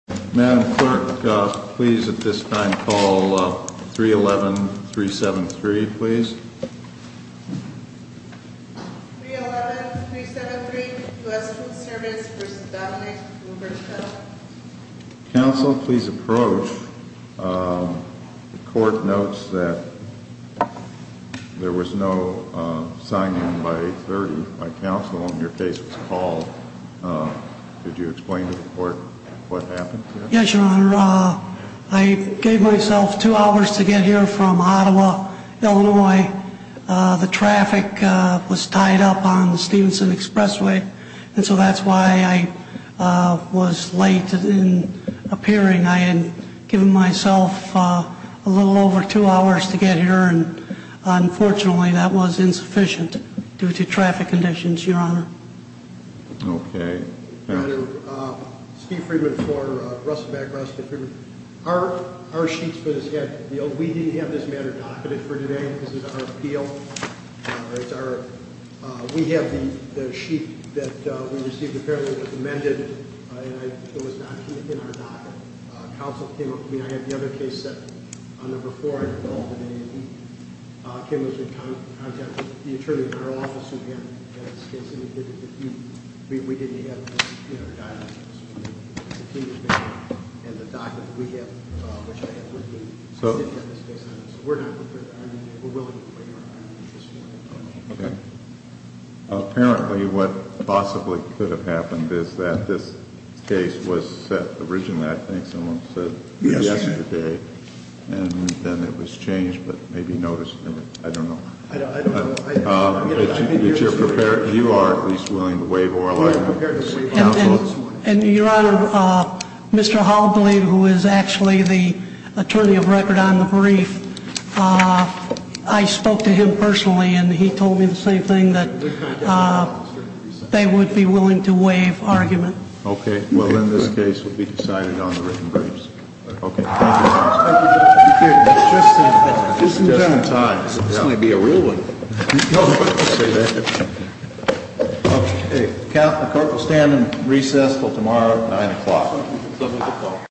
Madam Clerk, please at this time call 311-373, please. 311-373, U.S. Food Service v. Dominick, W.V. Counsel, please approach. The court notes that there was no signing by 830 by counsel. In your case, it was called. Did you explain to the court what happened? Yes, Your Honor. I gave myself two hours to get here from Ottawa, Illinois. The traffic was tied up on the Stevenson Expressway, and so that's why I was late in appearing. I had given myself a little over two hours to get here, and unfortunately that was insufficient due to traffic conditions, Your Honor. Okay. Steve Freedman for Rustic Back Rustic. Our sheets for this case, we didn't have this matter docketed for today. This is our appeal. We have the sheet that we received apparently was amended, and it was not in our docket. I mean, I have the other case that, on number four, I didn't call today. Ken was in contact with the attorney in our office who had this case, and we didn't have this in our docket. And the docket that we have, which I have with me, I did have this case on it. So we're not prepared. I mean, we're willing to play hard. Okay. Apparently what possibly could have happened is that this case was set originally, I think someone said yesterday, and then it was changed, but maybe noticed. I don't know. I don't know. But you are at least willing to waive oral argument. And, Your Honor, Mr. Hobley, who is actually the attorney of record on the brief, I spoke to him personally, and he told me the same thing, that they would be willing to waive argument. Okay. Well, in this case, it will be decided on the written briefs. Thank you, Your Honor. Thank you, Judge. Just in time. Just in time. This might be a real one. No, I wouldn't say that. Okay. The Catholic court will stand in recess until tomorrow at 9 o'clock. 7 o'clock.